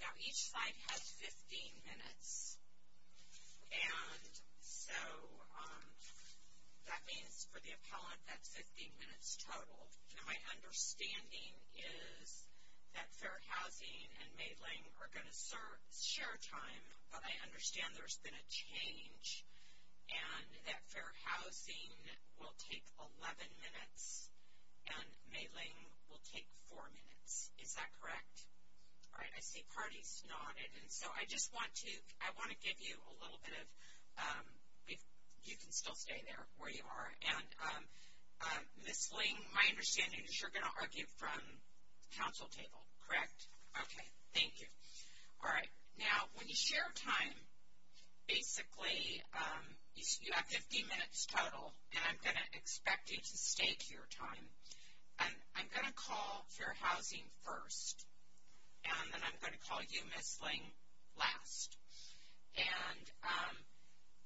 Now each side has 15 minutes and so that means for the appellant that's 15 minutes total. Now my understanding is that Fair Housing and Maitland are going to share time but I understand there's been a change and that Fair Housing will take 11 minutes and Maitland will take 4 minutes. Is that correct? Alright I see parties nodded and so I just want to I want to give you a little bit of if you can still stay there where you are and Miss Ling my understanding is you're gonna argue from council table correct? Okay thank you. Alright now when you have time basically you have 15 minutes total and I'm gonna expect you to stay to your time and I'm gonna call Fair Housing first and then I'm gonna call you Miss Ling last and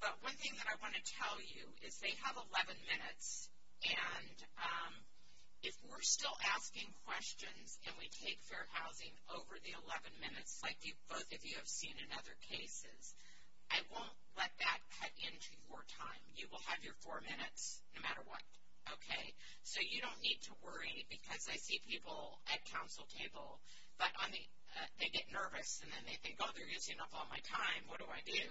but one thing that I want to tell you is they have 11 minutes and if we're still asking questions and we take Fair Housing over the 11 minutes like you both of you have seen in other cases I won't let that cut into your time you will have your four minutes no matter what okay so you don't need to worry because I see people at council table but I mean they get nervous and then they think oh they're using up all my time what do I do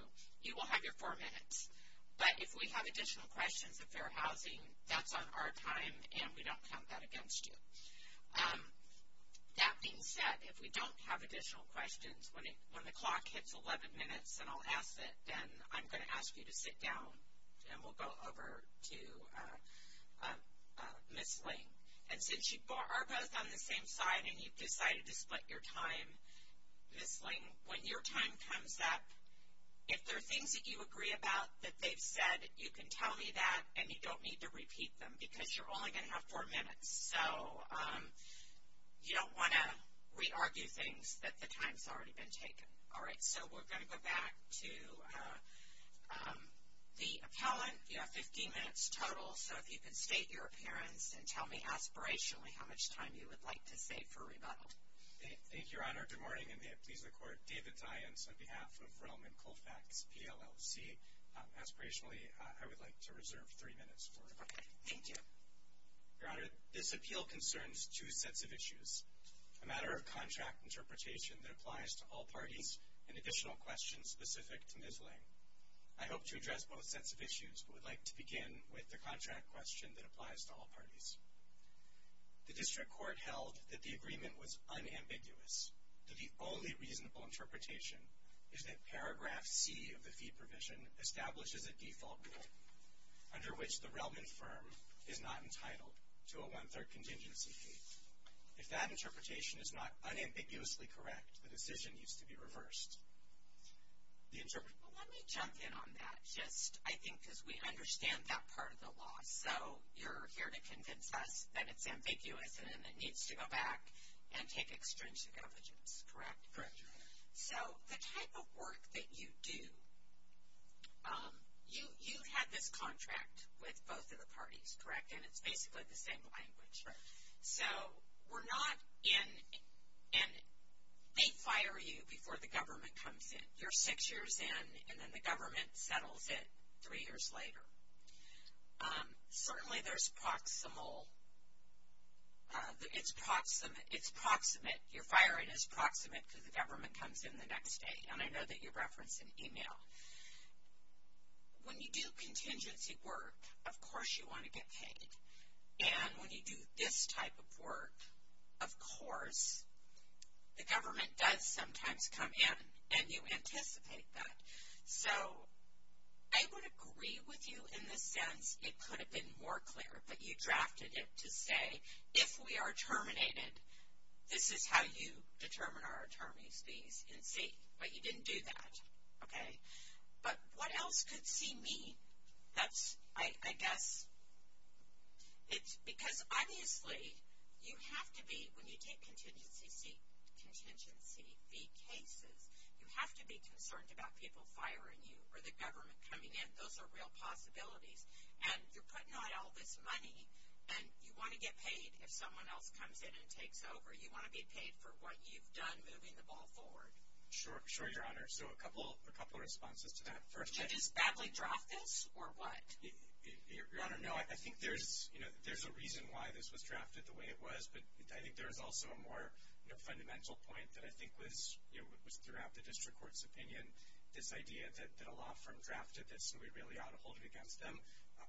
you will have your four minutes but if we have additional questions of Fair Housing that's on our time and we don't count that against you. That being said if we don't have additional questions when it when the clock hits 11 minutes and I'll ask it then I'm gonna ask you to sit down and we'll go over to Miss Ling and since you are both on the same side and you've decided to split your time Miss Ling when your time comes up if there are things that you agree about that they've said you can tell me that and you don't need to repeat them because you're only going to have four minutes so you don't want to re-argue things that the time's already been taken all right so we're going to go back to the appellant you have 15 minutes total so if you can state your appearance and tell me aspirationally how much time you would like to save for rebuttal. Thank you Your Honor, good morning and may it please the court. David Dience on behalf of Realm and Colfax PLLC. Aspirationally I would like to Your Honor, this appeal concerns two sets of issues a matter of contract interpretation that applies to all parties and additional questions specific to Miss Ling. I hope to address both sets of issues but would like to begin with the contract question that applies to all parties. The district court held that the agreement was unambiguous that the only reasonable interpretation is that paragraph C of the fee provision establishes a default rule under which the relevant firm is not entitled to a one-third contingency fee. If that interpretation is not unambiguously correct the decision needs to be reversed. Let me jump in on that just I think as we understand that part of the law so you're here to convince us that it's ambiguous and it needs to go back and take extrinsic evidence correct? Correct Your Honor. So the type of work that you do you had this contract with both of the parties correct and it's basically the same language. So we're not in and they fire you before the government comes in. You're six years in and then the government settles it three years later. Certainly there's proximal it's proximate it's proximate your firing is proximate because the government comes in the next day and I know that you do contingency work of course you want to get paid and when you do this type of work of course the government does sometimes come in and you anticipate that. So I would agree with you in the sense it could have been more clear but you drafted it to say if we are terminated this is how you determine our that's I guess it's because obviously you have to be when you take contingency seat contingency fee cases you have to be concerned about people firing you or the government coming in those are real possibilities and you're putting on all this money and you want to get paid if someone else comes in and takes over you want to be paid for what you've done moving the ball forward. Sure sure Your Honor no I think there's you know there's a reason why this was drafted the way it was but I think there's also a more fundamental point that I think was you know was throughout the district court's opinion this idea that a law firm drafted this and we really ought to hold it against them.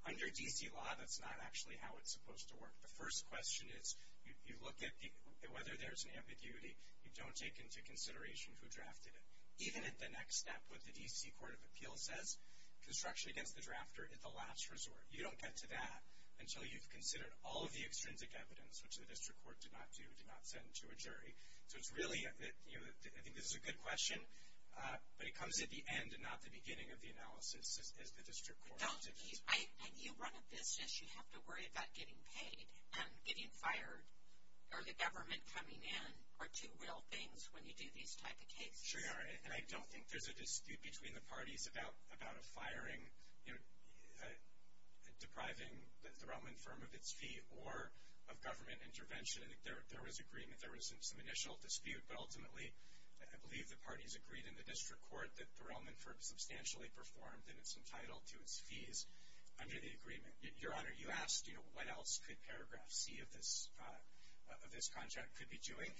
Under DC law that's not actually how it's supposed to work. The first question is you look at the whether there's an ambiguity you don't take into consideration who drafted it even at the next step what the DC Court of Appeals says construction against the drafter at the last resort you don't get to that until you've considered all of the extrinsic evidence which the district court did not do did not send to a jury so it's really that you know I think this is a good question but it comes at the end and not the beginning of the analysis as the district court. You run a business you have to worry about getting paid and getting fired or the government coming in are two real things when you do these type of cases. Sure Your Honor and I don't think there's a dispute between the depriving the Relman firm of its fee or of government intervention. I think there was agreement there was some initial dispute but ultimately I believe the parties agreed in the district court that the Relman firm substantially performed and it's entitled to its fees under the agreement. Your Honor you asked you know what else could paragraph C of this of this contract could be doing.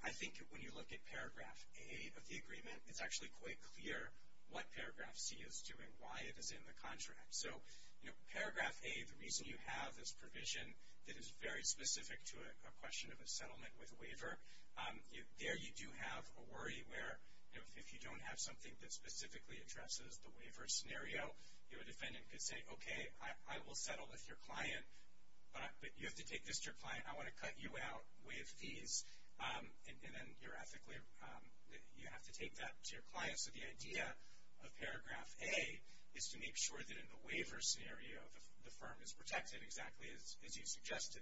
I think when you look at paragraph A of the agreement it's actually quite clear what paragraph C is doing why it is in the contract. So you know paragraph A the reason you have this provision that is very specific to a question of a settlement with a waiver there you do have a worry where if you don't have something that specifically addresses the waiver scenario your defendant could say okay I will settle with your client but you have to take this to your client I want to cut you out with fees and then you're ethically you have to take that to your client so the idea of paragraph A is to make sure that in the waiver scenario the firm is protected exactly as you suggested.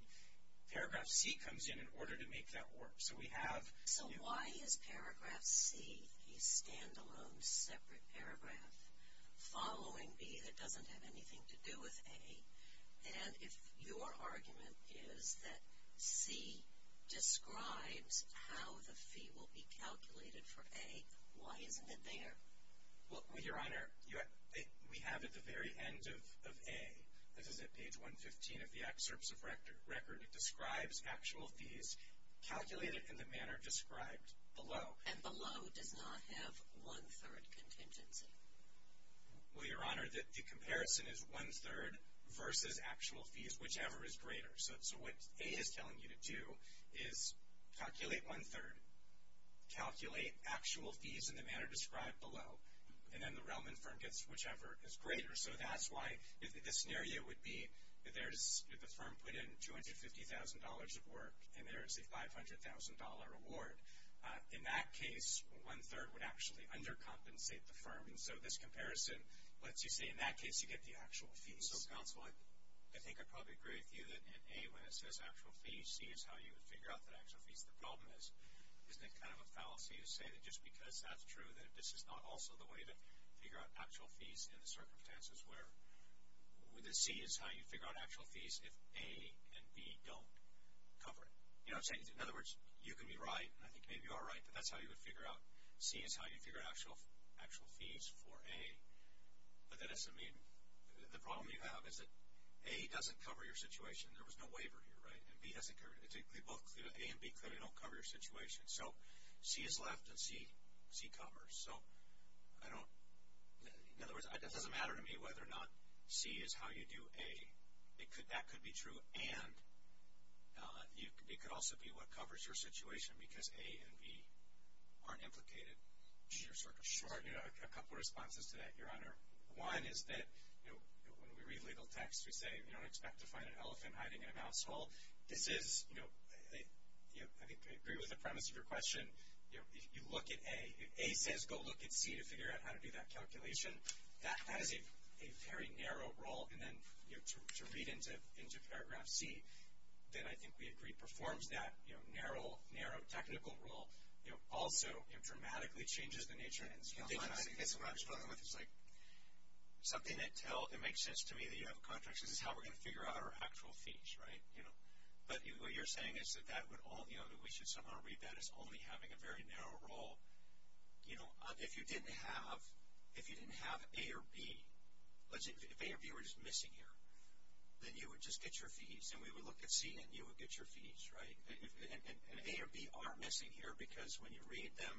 Paragraph C comes in in order to make that work so we have... So why is paragraph C a standalone separate paragraph following B that doesn't have anything to do with A and if your isn't it there? Well Your Honor we have at the very end of A this is at page 115 of the excerpts of record it describes actual fees calculated in the manner described below. And below does not have one-third contingency. Well Your Honor that the comparison is one-third versus actual fees whichever is greater so what A is telling you to do is calculate one-third, calculate actual fees in the manner described below and then the Relman firm gets whichever is greater so that's why the scenario would be that there's the firm put in $250,000 of work and there's a $500,000 reward in that case one-third would actually undercompensate the firm and so this comparison lets you say in that case you get the actual fees. So counsel I think I probably agree with you that in A when it says actual fees C is how you would figure out that actual fees the problem is isn't it kind of a fallacy to say that just because that's true that this is not also the way to figure out actual fees in the circumstances where the C is how you figure out actual fees if A and B don't cover it. You know I'm saying in other words you can be right and I think maybe you are right but that's how you would figure out C is how you figure out actual actual fees for A but that doesn't mean the problem you have is that A doesn't cover your situation there was no waiver here right and B hasn't covered it. A and B clearly don't cover your situation so C is left and C covers so I don't in other words it doesn't matter to me whether or not C is how you do A it could that could be true and you could it could also be what covers your situation because A and B aren't implicated in your circumstances. I have a couple responses to that your honor. One is that you know when we read legal texts we say you don't expect to find an elephant hiding in a mouse hole. This is you know I agree with the premise of your question you know if you look at A, if A says go look at C to figure out how to do that calculation that has a very narrow role and then you know to read into into paragraph C then I think we agree performs that you know narrow narrow technical role you know also it dramatically changes the nature and it's like something that tells it makes sense to me that you have a figure out our actual fees right you know but you're saying is that that would all you know that we should somehow read that as only having a very narrow role you know if you didn't have if you didn't have A or B let's say if A or B were just missing here then you would just get your fees and we would look at C and you would get your fees right and A or B are missing here because when you read them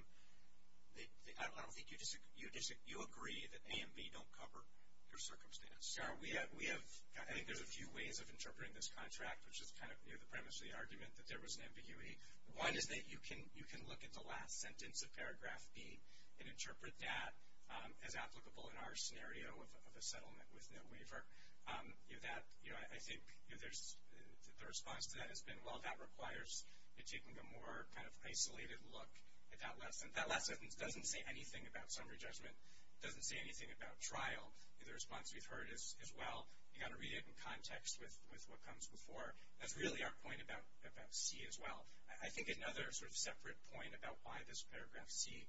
they I don't think you disagree you disagree you agree that A and B don't cover your circumstance. Your honor we have we have I think there's a few ways of interpreting this contract which is kind of near the premise of the argument that there was an ambiguity one is that you can you can look at the last sentence of paragraph B and interpret that as applicable in our scenario of a settlement with no waiver you that you know I think there's the response to that has been well that requires it taking a more kind of isolated look at that lesson that lesson doesn't say anything about summary judgment doesn't say anything about trial the response we've heard is as well you got to read it in context with with what comes before that's really our point about about C as well I think another sort of separate point about why this paragraph C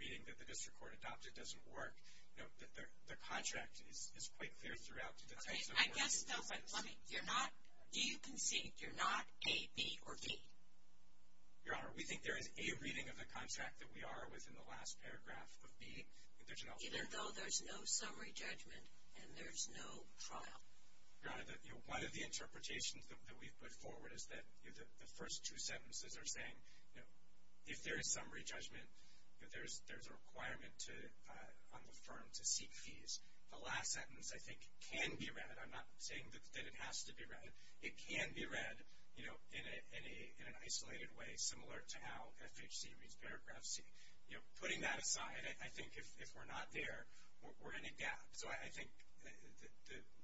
reading that the district court adopted doesn't work you know the contract is quite clear throughout I guess you're not do you concede you're not a B or B your honor we think there is a reading of the contract that we are within the last paragraph of B even though there's no summary judgment and there's no trial one of the interpretations that we've put forward is that the first two sentences are saying you know if there is summary judgment but there's there's a requirement to on the firm to seek fees the last sentence I think can be read I'm not saying that it has to be read it can be read you know in a in an isolated way similar to how FHC reads paragraph C you know putting that aside I think if we're not there we're in a gap so I think that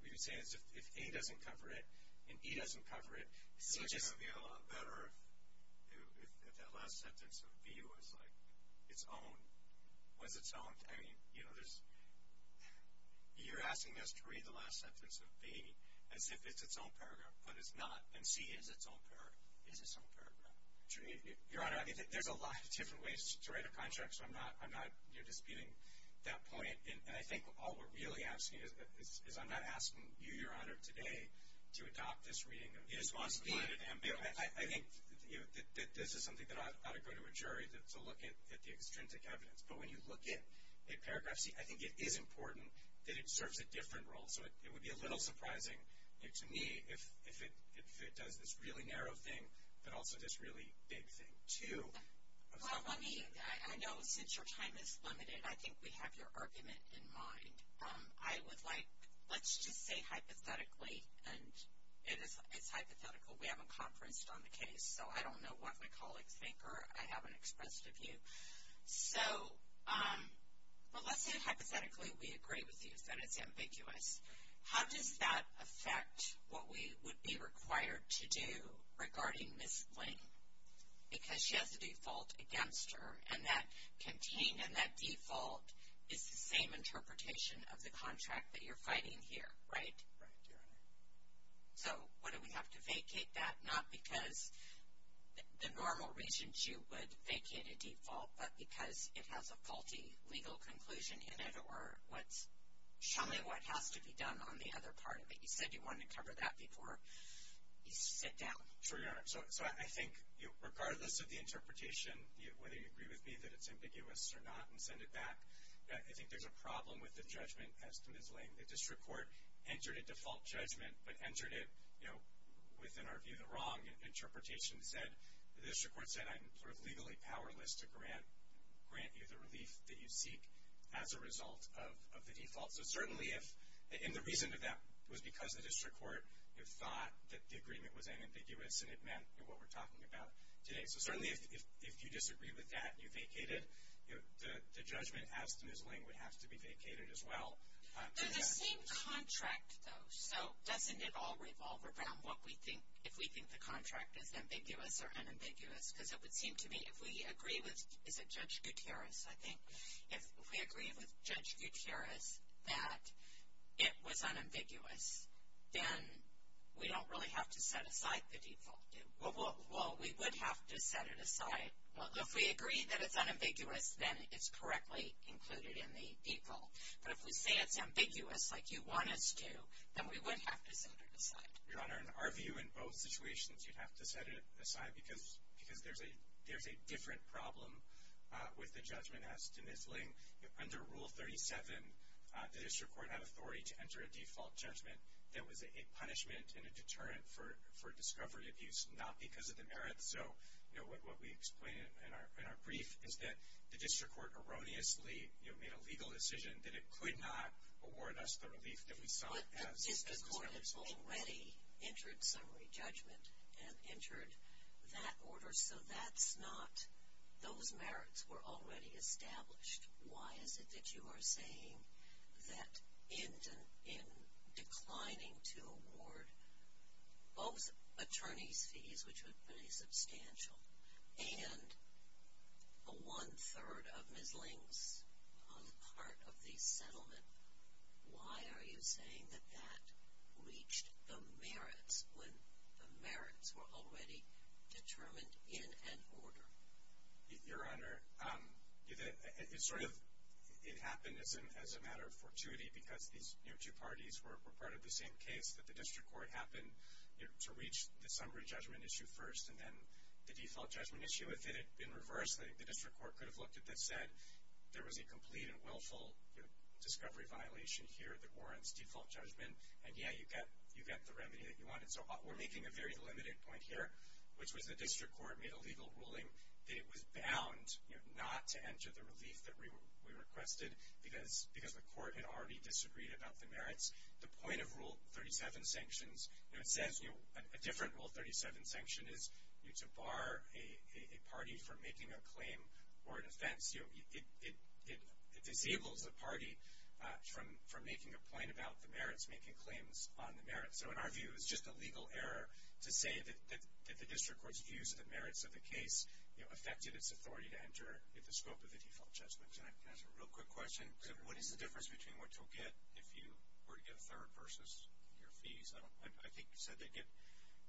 we would say is if he doesn't cover it and he doesn't cover it so just a lot better if that last sentence of view is like its own was its own I mean you know there's you're asking us to read the last sentence of baby as if it's its own paragraph but it's not and C is its own pair is its own paragraph your honor I think there's a lot of different ways to write a contract so I'm not I'm not you're that point and I think all we're really asking is I'm not asking you your honor today to adopt this reading I think that this is something that ought to go to a jury that's a look at the extrinsic evidence but when you look at a paragraph see I think it is important that it serves a different role so it would be a little surprising to me if it does this really narrow thing but also this really big thing too I know since your time is limited I think we have your argument in mind I would like let's just say hypothetically and it is it's hypothetical we haven't conferenced on the case so I don't know what my colleagues think or I haven't expressed of you so let's say hypothetically we agree with you that it's ambiguous how does that affect what we would be because she has a default against her and that contain and that default is the same interpretation of the contract that you're fighting here right so what do we have to vacate that not because the normal regions you would vacate a default but because it has a faulty legal conclusion in it or what's showing what has to be done on the other part of it you said you wanted to cover that before so I think regardless of the interpretation whether you agree with me that it's ambiguous or not and send it back I think there's a problem with the judgment estimate is laying the district court entered a default judgment but entered it you know within our view the wrong interpretation said the district court said I'm legally powerless to grant grant you the relief that you seek as a result of the default so certainly if in the reason of that was because the agreement was an ambiguous and it meant what we're talking about today so certainly if you disagree with that you vacated the judgment has to be vacated as well so doesn't it all revolve around what we think if we think the contract is ambiguous or unambiguous because it would seem to me if we agree with is a judge Gutierrez I think if we agree with judge Gutierrez that it was unambiguous then we don't really have to set aside the default well we would have to set it aside well if we agree that it's unambiguous then it's correctly included in the people but if we say it's ambiguous like you want us to then we would have to set it aside your honor in our view in both situations you'd have to set it aside because because there's a there's a different problem with the judgment estimate laying under rule 37 the district court have authority to that was a punishment in a deterrent for for discovery of use not because of the merit so you know what we explain in our brief is that the district court erroneously you know made a legal decision that it could not award us the relief that we saw already entered summary judgment and entered that order so that's not those merits were already established why is it that you are that engine in declining to award both attorneys fees which would be substantial and a one-third of Miss Ling's heart of the settlement why are you saying that that reached the merits when the merits were already determined your honor it's sort of it happened as a matter of fortuity because these two parties were part of the same case that the district court happened to reach the summary judgment issue first and then the default judgment issue if it had been reversed that the district court could have looked at this said there was a complete and willful discovery violation here the warrants default judgment and yeah you get you get the remedy that you wanted so we're making a very limited point here which was the district court made a legal ruling it was bound not to enter the relief that we requested because because the court had already disagreed about the merits the point of rule 37 sanctions it says you a different rule 37 sanction is you to bar a party from making a claim or an offense you it disables the party from from making a point about the merits making claims on the merits so in our view it's just a legal error to say that the district court's views of the merits of the case you know affected its authority to enter the scope of the default judgments and I can ask a real quick question what is the difference between what you'll get if you were to get a third versus your fees I think you said they get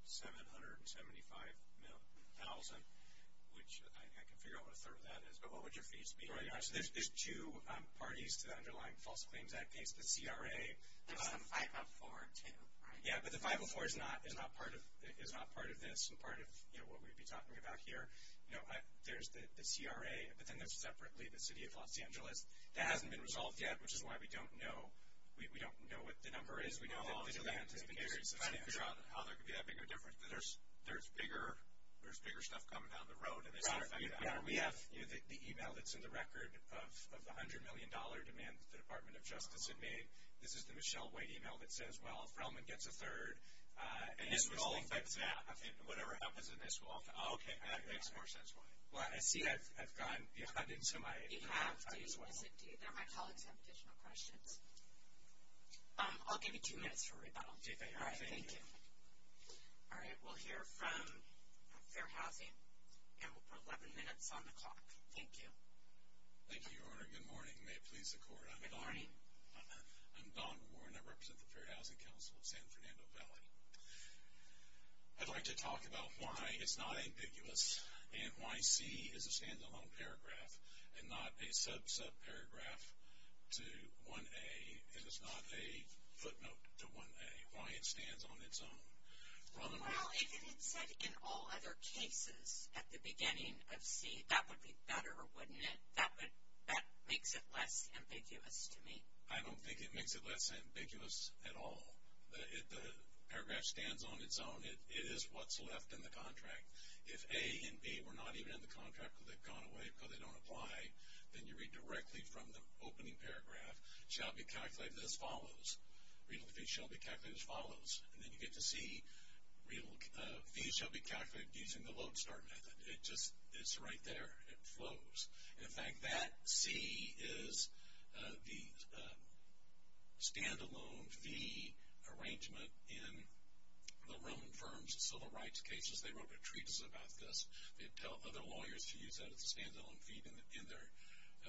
seven hundred and seventy five thousand which I can figure out what a third of that is but what would your fees be right now so there's two parties to the underlying false claims that case the CRA yeah but the 504 is not is not part of is not part of this and part of you know what we'd be talking about here you know there's the CRA but then there's separately the city of Los Angeles that hasn't been resolved yet which is why we don't know we don't know what the number is we know how there could be a bigger difference there's there's bigger there's bigger stuff coming down the road and we have the email that's in the record of the this is the Michelle white email that says well if Roman gets a third and this was like that I think whatever happens in this walk okay well I see I've gone into my questions I'll give you two minutes for rebuttal all right thank you all right we'll hear from their housing and we'll put 11 minutes on the clock thank you I'd like to talk about why it's not ambiguous and why C is a standalone paragraph and not a sub sub paragraph to 1a and it's not a footnote to 1a why it stands on its own in all other cases at the beginning of C that would be better wouldn't it that would that makes it less ambiguous to me I don't think it makes it less ambiguous at all the paragraph stands on its own it is what's left in the contract if a and B were not even in the contract they've gone away because they don't apply then you read directly from the opening paragraph shall be calculated as follows read the piece shall be calculated as follows and then you get to see real shall be calculated using the load start method it just it's right there it flows in fact that C is the standalone fee arrangement in the Roman firms civil rights cases they wrote a treatise about this they tell other lawyers to use that as a standalone fee in their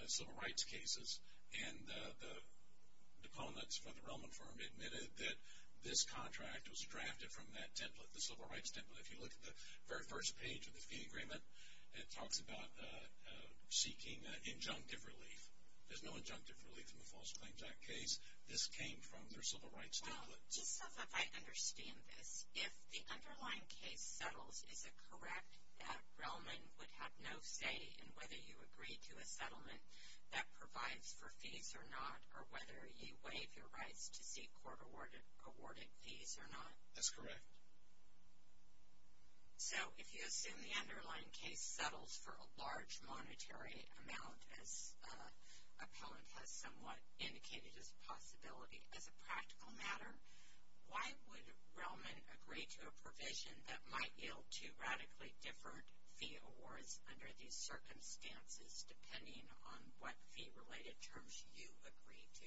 civil rights cases and the opponents for the Roman firm admitted that this contract was drafted from that template the civil rights template if you look at the very first page of the fee agreement it talks about seeking injunctive relief there's no injunctive relief in the false claims act case this came from their civil rights template just stuff if I understand this if the underlying case settles is it correct that Roman would have no say in whether you agree to a settlement that provides for fees or not or whether you waive your rights to seek court awarded awarded fees or not that's correct so if you assume the underlying case settles for a large monetary amount as a poet has somewhat indicated as a possibility as a practical matter why would Roman agree to a provision that might yield two radically different fee awards under these circumstances depending on what fee related terms you agree to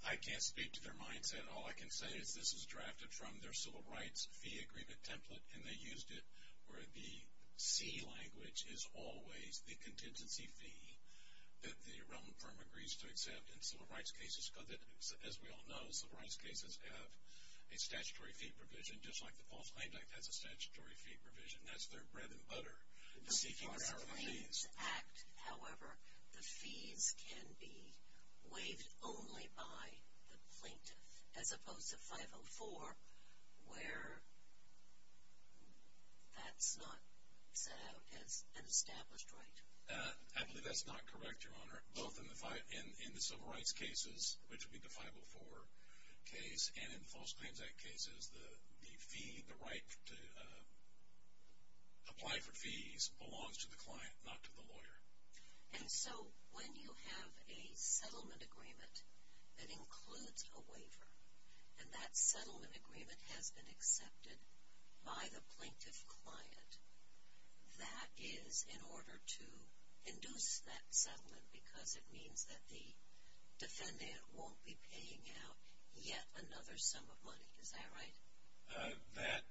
I can't speak to their mindset all I can say is this is drafted from their civil rights fee agreement template and they used it where the C language is always the contingency fee that the Roman firm agrees to accept in civil rights cases because it is as we all know civil rights cases have a statutory fee provision just like the false claim like that's a statutory fee provision that's their bread and butter the seeking of these however the fees can be waived only by the plaintiff as opposed to 504 where that's not as an established right I believe that's not correct your honor both in the fight in in the civil rights cases which would be the 504 case and in false claims act cases the the fee the right to apply for fees belongs to the client not to the a settlement agreement that includes a waiver and that settlement agreement has been accepted by the plaintiff client that is in order to induce that settlement because it means that the defendant won't be paying out yet another sum of money is that right that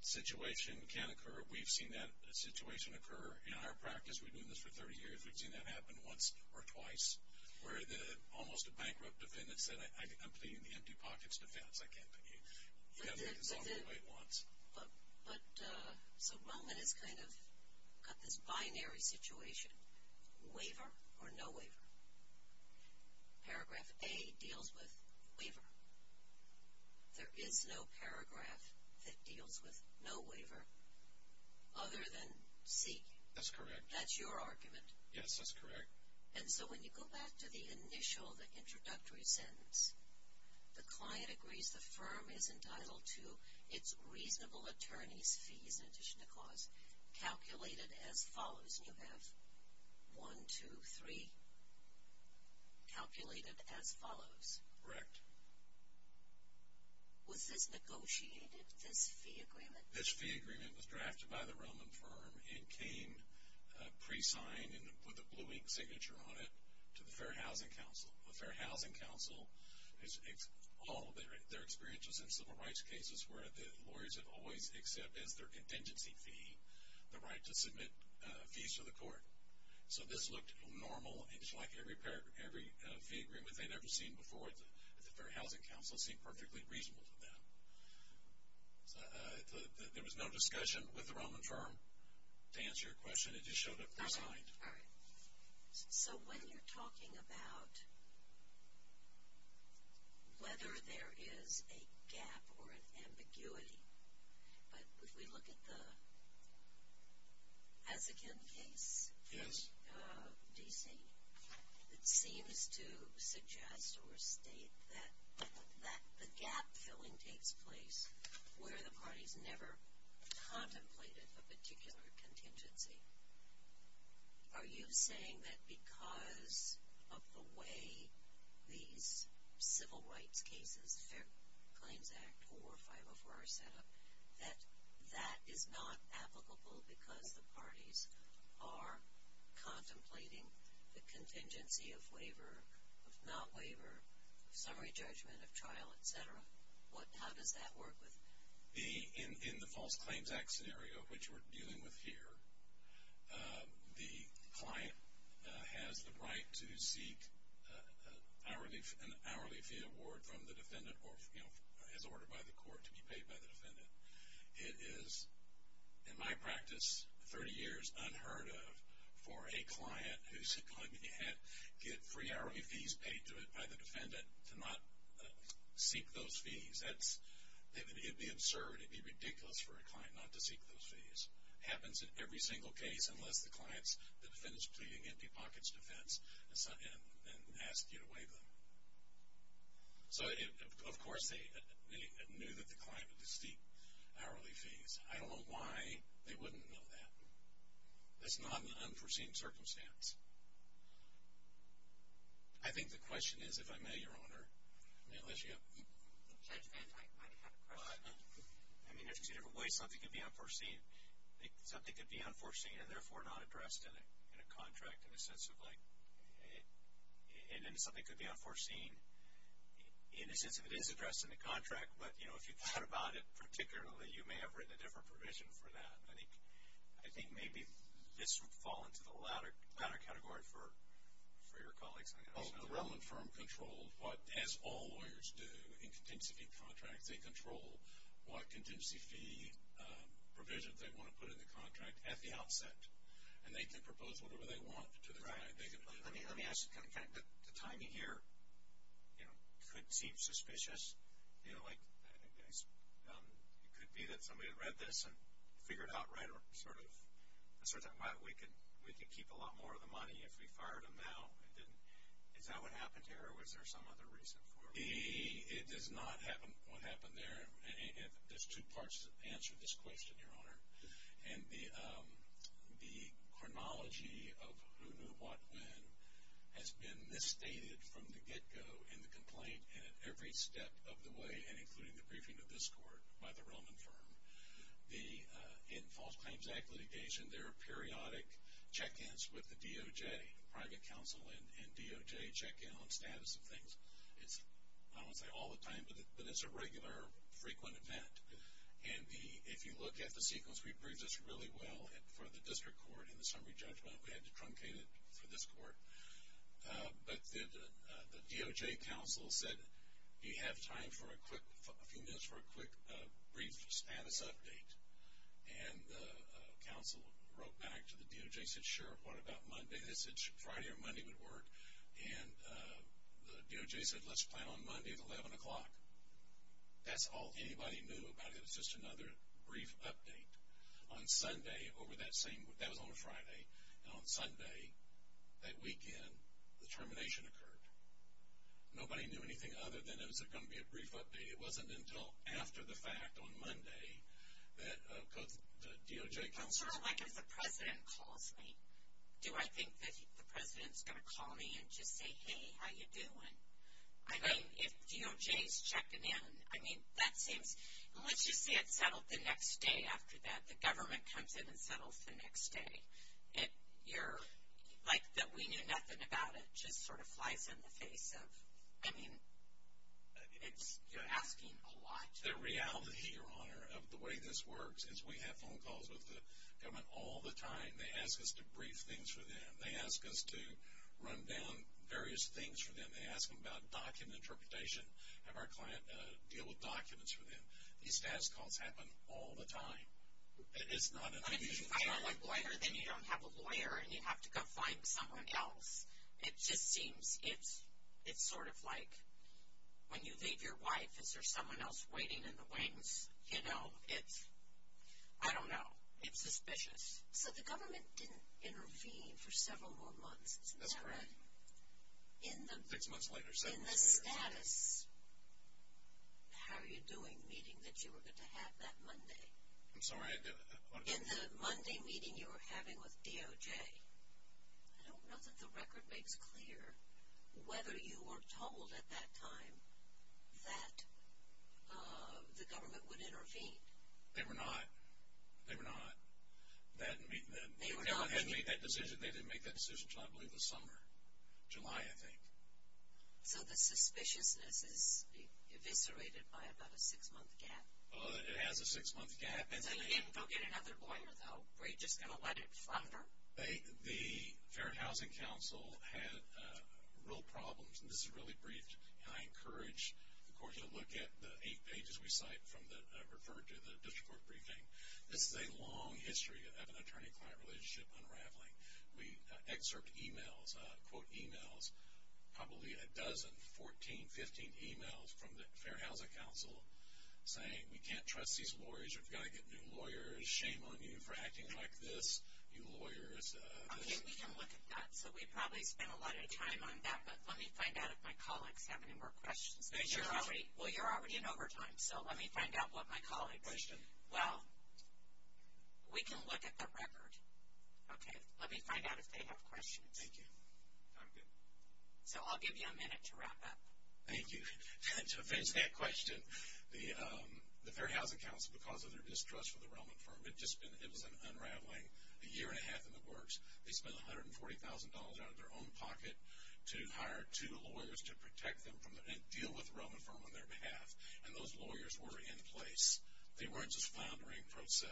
situation can occur we've seen that a situation occur in our practice we've been this for 30 years we've seen that happen once or twice where the almost a bankrupt defendants that I think I'm pleading the empty pockets defense I can't but so Roman is kind of got this binary situation waiver or no waiver paragraph a deals with waiver there is no paragraph that deals with no waiver other than C that's correct that's your argument yes that's correct and so when you go back to the initial the introductory sentence the client agrees the firm is entitled to its reasonable attorneys fees in addition to cause calculated as follows you have one two three calculated as follows correct was this negotiated this fee agreement this signature on it to the Fair Housing Council the Fair Housing Council is all their experiences in civil rights cases where the lawyers have always except as their contingency fee the right to submit fees to the court so this looked normal and just like every pair every agreement they'd ever seen before the Fair Housing Council seemed perfectly reasonable to them there was no discussion with the Roman firm to answer your question it just showed up resigned so when you're talking about whether there is a gap or an ambiguity but if we look at the as again case yes DC it seems to suggest or state that that the gap filling takes place where the parties never contemplated a particular contingency are you saying that because of the way these civil rights cases Fair Claims Act or 504 our setup that that is not applicable because the parties are contemplating the contingency of waiver of not waiver summary judgment of trial etc what how does that work with the in the False Claims Act scenario which we're dealing with here the client has the right to seek hourly an hourly fee award from the defendant or you know as ordered by the court to be paid by the defendant it is in my practice 30 years unheard of for a seek those fees that's absurd it'd be ridiculous for a client not to seek those fees happens in every single case unless the clients the defendants pleading empty-pockets defense and asked you to waive them so of course they knew that the climate distinct hourly fees I don't know why they wouldn't know that that's not an unforeseen circumstance I think the question is if I may your honor I mean there's two different ways something could be unforeseen something could be unforeseen and therefore not addressed in a contract in a sense of like and then something could be unforeseen in a sense of it is addressing the contract but you know if you thought about it particularly you may have written a different provision for that I think I think maybe this would fall into the latter latter category for for your colleagues the relevant firm controlled what as all lawyers do in contingency contracts they control what contingency fee provisions they want to put in the contract at the outset and they can propose whatever they want to the right they can let me let me ask the kind of time you here you know could seem suspicious you know like it could be that somebody read this and figured out right or sort of why we could we could keep a lot more of the money if we fired him now and then is that what happened here was there some other reason for me it does not happen what happened there if there's two parts that answer this question your honor and the the chronology of who knew what when has been misstated from the get-go in the complaint and at every step of the way and including the briefing of this court by the Roman firm the in False Claims Act litigation there are periodic check-ins with the DOJ private counsel and DOJ check-in on status of things it's I don't say all the time but it's a regular frequent event and the if you look at the sequence we breathe this really well and for the district court in the summary judgment we had to truncate it for this court but the DOJ counsel said you have time for a quick a few minutes for a quick brief status update and counsel wrote back to the DOJ said sure what about Monday this is Friday or Monday would work and the DOJ said let's plan on Monday at 11 o'clock that's all anybody knew about it it's just another brief update on Sunday over that same that was on a Friday and on Sunday that weekend the termination nobody knew anything other than it was it going to be a brief update it wasn't until after the fact on Monday that DOJ president calls me do I think that the president's gonna call me and just say hey how you doing I mean if DOJ's checking in I mean that seems once you see it settled the next day after that the government comes in and settles the next day it you're like that we knew nothing about it just sort of flies in the face of I mean it's you're asking a lot the reality your honor of the way this works is we have phone calls with the government all the time they ask us to brief things for them they ask us to run down various things for them they ask them about document interpretation have our client deal with documents for them these status calls happen all the it just seems it's it's sort of like when you leave your wife is there someone else waiting in the wings you know it's I don't know it's suspicious so the government didn't intervene for several more months that's right in the six months later in the status how are you doing meeting that you were going to have that Monday I'm sorry I did it in the Monday meeting you were having with makes clear whether you were told at that time that the government would intervene they were not they were not that meeting that decision they didn't make that decision I believe the summer July I think so the suspiciousness is eviscerated by about a six month gap it has a six month gap and so you didn't go get another lawyer though we're just gonna let it flutter the Fair Housing Council had real problems and this is really brief and I encourage the court to look at the eight pages we cite from the referred to the district court briefing this is a long history of an attorney-client relationship unraveling we excerpt emails quote emails probably a dozen 14 15 emails from the Fair Housing Council saying we can't trust these lawyers lawyers shame on you for acting like this you lawyers so we probably spent a lot of time on that but let me find out if my colleagues have any more questions because you're already well you're already in overtime so let me find out what my colleague question well we can look at the record okay let me find out if they have questions thank you so I'll give you a minute to wrap up thank you to finish that question the the Fair Housing Council because of their distrust for the Roman firm it just been it was an unraveling a year and a half in the works they spent a hundred and forty thousand dollars out of their own pocket to hire two lawyers to protect them from the deal with Roman firm on their behalf and those lawyers were in place they weren't just foundering pro se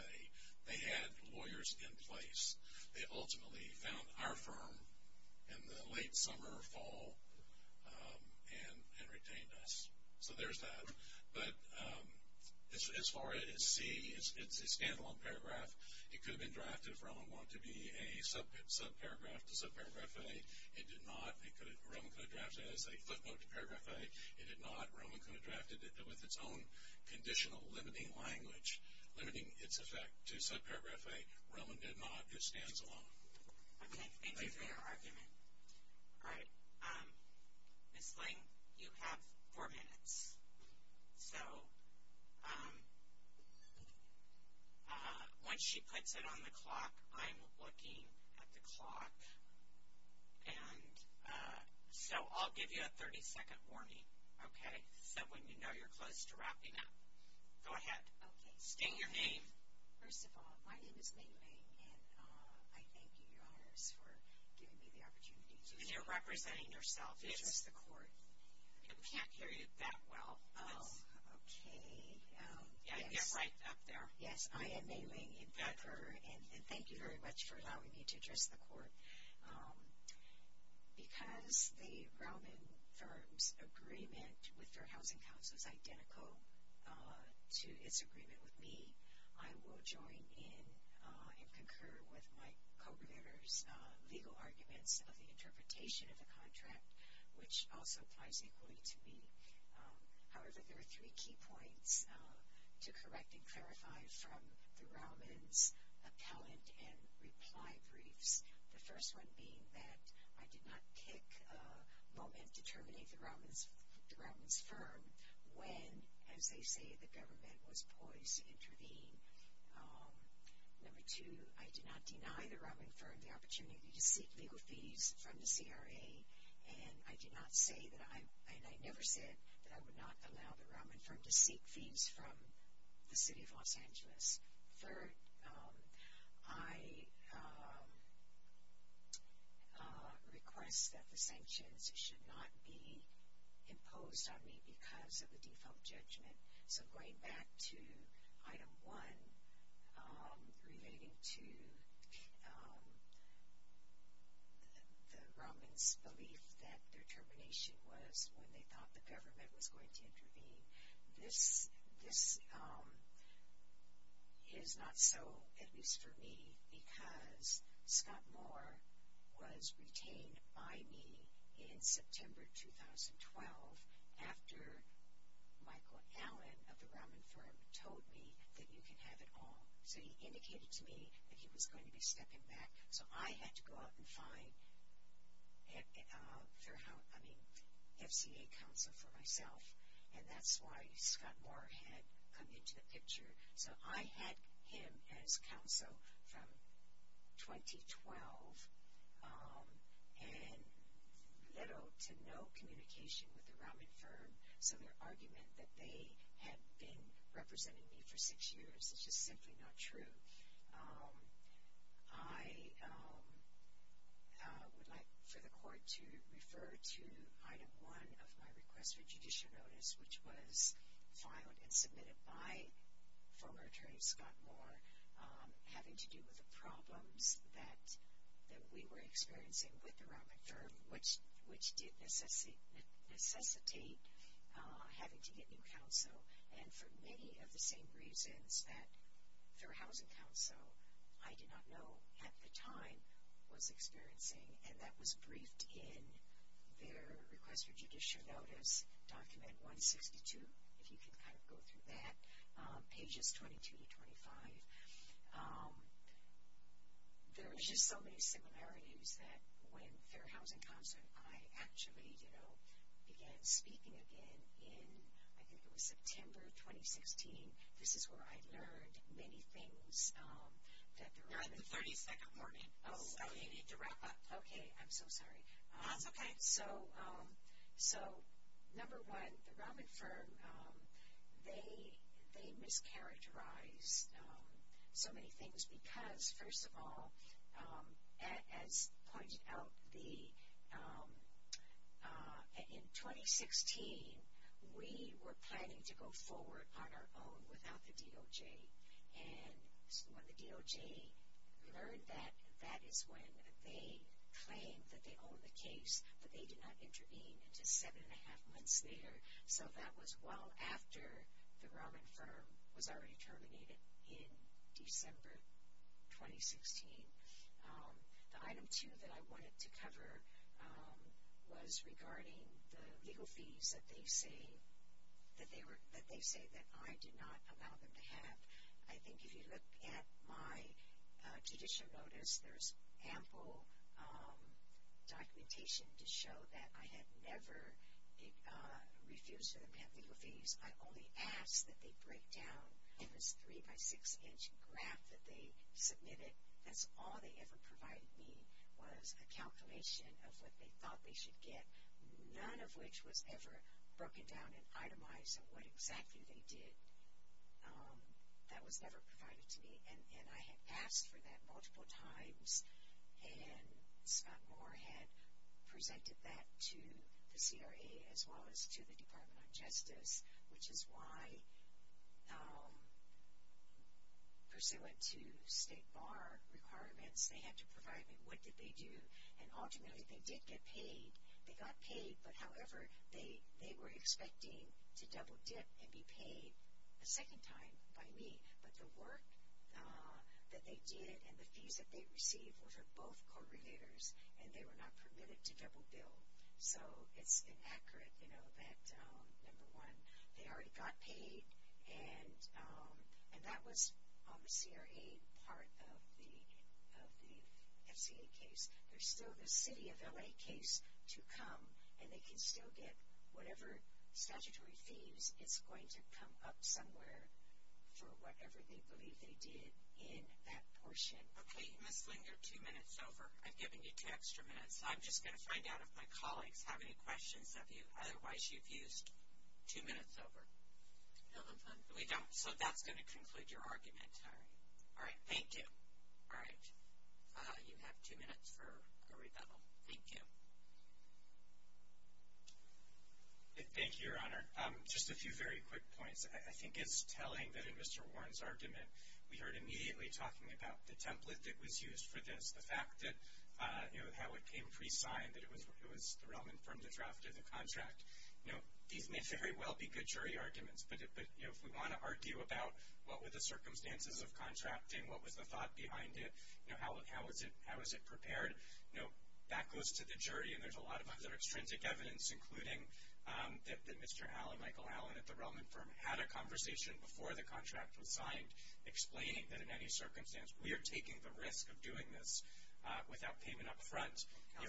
they had lawyers in place they ultimately found our firm in the late summer or fall and retained us so there's that but this is for it is C it's a standalone paragraph it could have been drafted from want to be a sub paragraph to sub paragraph a it did not it could Roman could have drafted it as a footnote to paragraph a it did not Roman could have drafted it with its own conditional limiting language limiting its effect to subparagraph a Roman did not it stands alone okay thank you for your argument all right miss Ling you have four minutes so once she puts it on the clock I'm looking at the clock and so I'll give you a 30-second warning okay so when you know you're close to wrapping up go for giving me the opportunity you're representing yourself it's just the court you can't hear you that well oh okay yeah I guess right up there yes I am mailing in pepper and thank you very much for allowing me to address the court because the Roman firms agreement with their housing councils identical to its agreement with me I will join in and concur with my co-presenters legal arguments of the interpretation of the contract which also applies equally to me however there are three key points to correct and clarify from the Romans appellant and reply briefs the first one being that I did not pick moment the Romans firm when as they say the government was poised to intervene number two I did not deny the Roman firm the opportunity to seek legal fees from the CRA and I did not say that I and I never said that I would not allow the Roman firm to seek fees from the city of Los Angeles third I request that the imposed on me because of the default judgment so going back to item 1 relating to the Romans belief that their termination was when they thought the government was going to intervene this this is not so at least for me because Scott Moore was retained by me in September 2012 after Michael Allen of the Roman firm told me that you can have it all so he indicated to me that he was going to be stepping back so I had to go out and find fair housing FCA counsel for myself and that's why Scott Moore had come into the and little to no communication with the Roman firm so their argument that they had been representing me for six years is just simply not true I would like for the court to refer to item one of my request for judicial notice which was filed and submitted by former attorney Scott Moore having to do with the that we were experiencing with the Roman firm which which did necessitate having to get new counsel and for many of the same reasons that their housing counsel I did not know at the time was experiencing and that was briefed in their request for judicial notice document 162 if you can kind of go pages 22 to 25 there was just so many similarities that when their housing constant I actually you know began speaking again in I think it was September 2016 this is where I learned many things that there are the 32nd morning oh okay I'm so sorry that's okay so so number one the Roman firm they they mischaracterize so many things because first of all as pointed out the in 2016 we were planning to go forward on our own without the DOJ and when the DOJ learned that that is when they claimed that they own the case but they intervened into seven and a half months later so that was well after the Roman firm was already terminated in December 2016 the item two that I wanted to cover was regarding the legal fees that they say that they were that they say that I did not allow them to have I think if you look at my judicial notice there's ample documentation to show that I had never refused to them have legal fees I only asked that they break down this three by six inch graph that they submitted that's all they ever provided me was a calculation of what they thought they should get none of which was ever broken down and itemized and what exactly they did that was never provided to me and I had asked for that multiple times and Scott Moore had presented that to the CRA as well as to the Department of Justice which is why first they went to state bar requirements they had to provide me what did they do and ultimately they did get paid they got paid but however they they were expecting to double dip and be paid a second time by me but the work that they did and the fees that they received were for both correlators and they were not permitted to double bill so it's inaccurate you know that number one they already got paid and and that was on the CRA part of the FCA case there's still the city of LA case to come and they can still get whatever statutory fees it's going to come up somewhere for whatever they believe they did in that portion okay miss linger two minutes over I've given you two extra minutes I'm just going to find out if my colleagues have any questions of you otherwise you've used two minutes over we don't so that's going to conclude your argument all right all right thank you all right you have two minutes for a rebuttal thank you thank you your honor just a few very quick points I think it's telling that in mr. Warren's argument we heard immediately talking about the template that was used for this the fact that you know how it came pre-signed that it was it was the Roman from the draft of the contract you know these may very well be good jury arguments but it but you know if we want to argue about what were the circumstances of contracting what was the thought behind it you know how how is it how is it prepared you know that goes to the jury and there's a lot of other extrinsic evidence including that mr. Allen Michael Allen at the Roman firm had a conversation before the contract was signed explaining that in any circumstance we are taking the risk of doing this without payment upfront to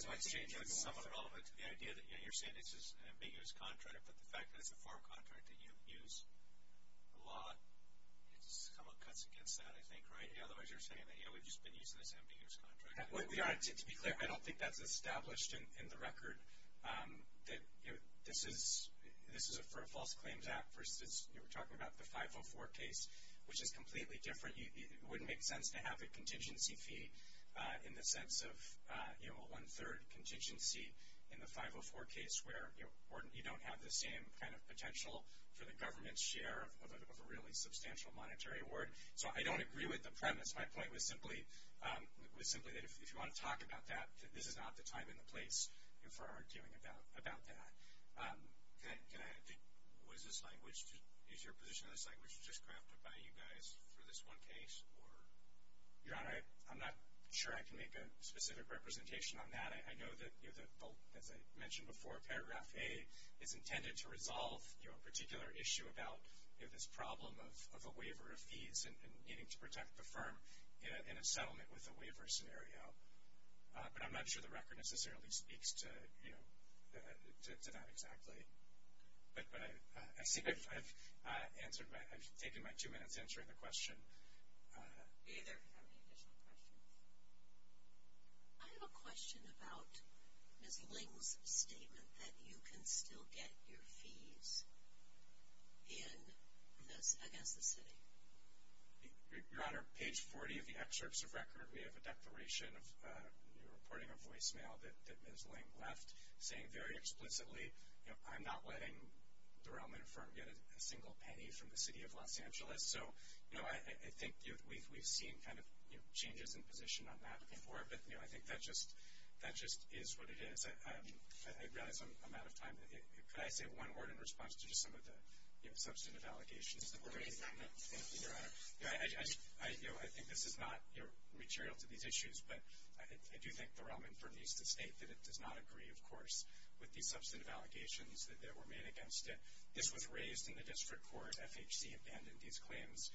be clear I don't think that's established in the record that you know this is this is a for a false claims act versus you were talking about the 504 case which is completely different you wouldn't make sense to have a contingency fee in the sense of you know a one-third contingency in the 504 case where you don't have the same kind of potential for the government's share of a really substantial monetary award so I don't agree with the premise my point was simply it was simply that if you want to talk about that this is not the time in the place and for arguing about about that was this language to use your position of this language just crafted by you guys for this one case or your honor I'm not sure I can make a specific representation on that I know that you know that as I mentioned before paragraph a is intended to resolve your particular issue about if this problem of a waiver of fees and needing to protect the firm in a settlement with a waiver scenario but I'm not sure the record necessarily speaks to you to that exactly but I see if I've answered I've taken my two minutes answering the question I have a question about Miss Ling's statement that you can still get your your honor page 40 of the excerpts of record we have a declaration of reporting a voicemail that Miss Ling left saying very explicitly I'm not letting the realm in a firm get a single penny from the city of Los Angeles so you know I think we've seen kind of changes in position on that before but you know I think that just that just is what it is I realize I'm out of time could I say one word in response to just some of the substantive allegations I think this is not your material to these issues but I do think the Roman for these to state that it does not agree of course with these substantive allegations that were made against it this was raised in the district court FHC abandoned these claims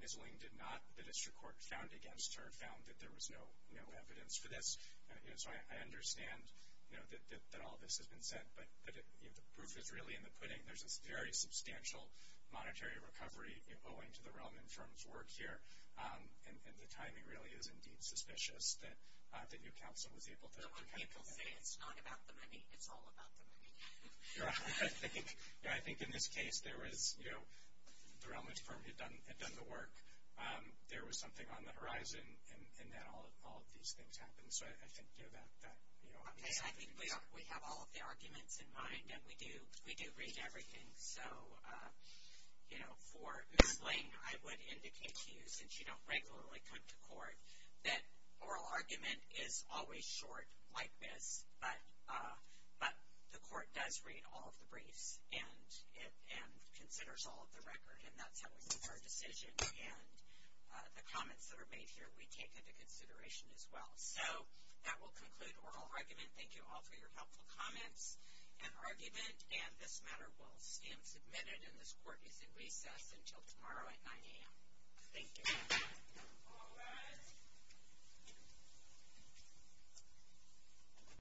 Miss Ling did not the district court found against her found that there was no no evidence for this you know so I understand you know that all this has really in the pudding there's a very substantial monetary recovery going to the Roman firms work here and the timing really is indeed suspicious that the new council was able to I think in this case there was you know the Romans firm had done had done the work there was something on the horizon and then all of the arguments in mind and we do we do read everything so you know for Miss Ling I would indicate to you since you don't regularly come to court that oral argument is always short like this but but the court does read all of the briefs and and considers all of the record and that's how we make our decision and the comments that are made here we take into consideration as well so that will conclude oral argument thank you all for your helpful comments and argument and this matter will stand submitted in this court is in recess until tomorrow at 9 a.m.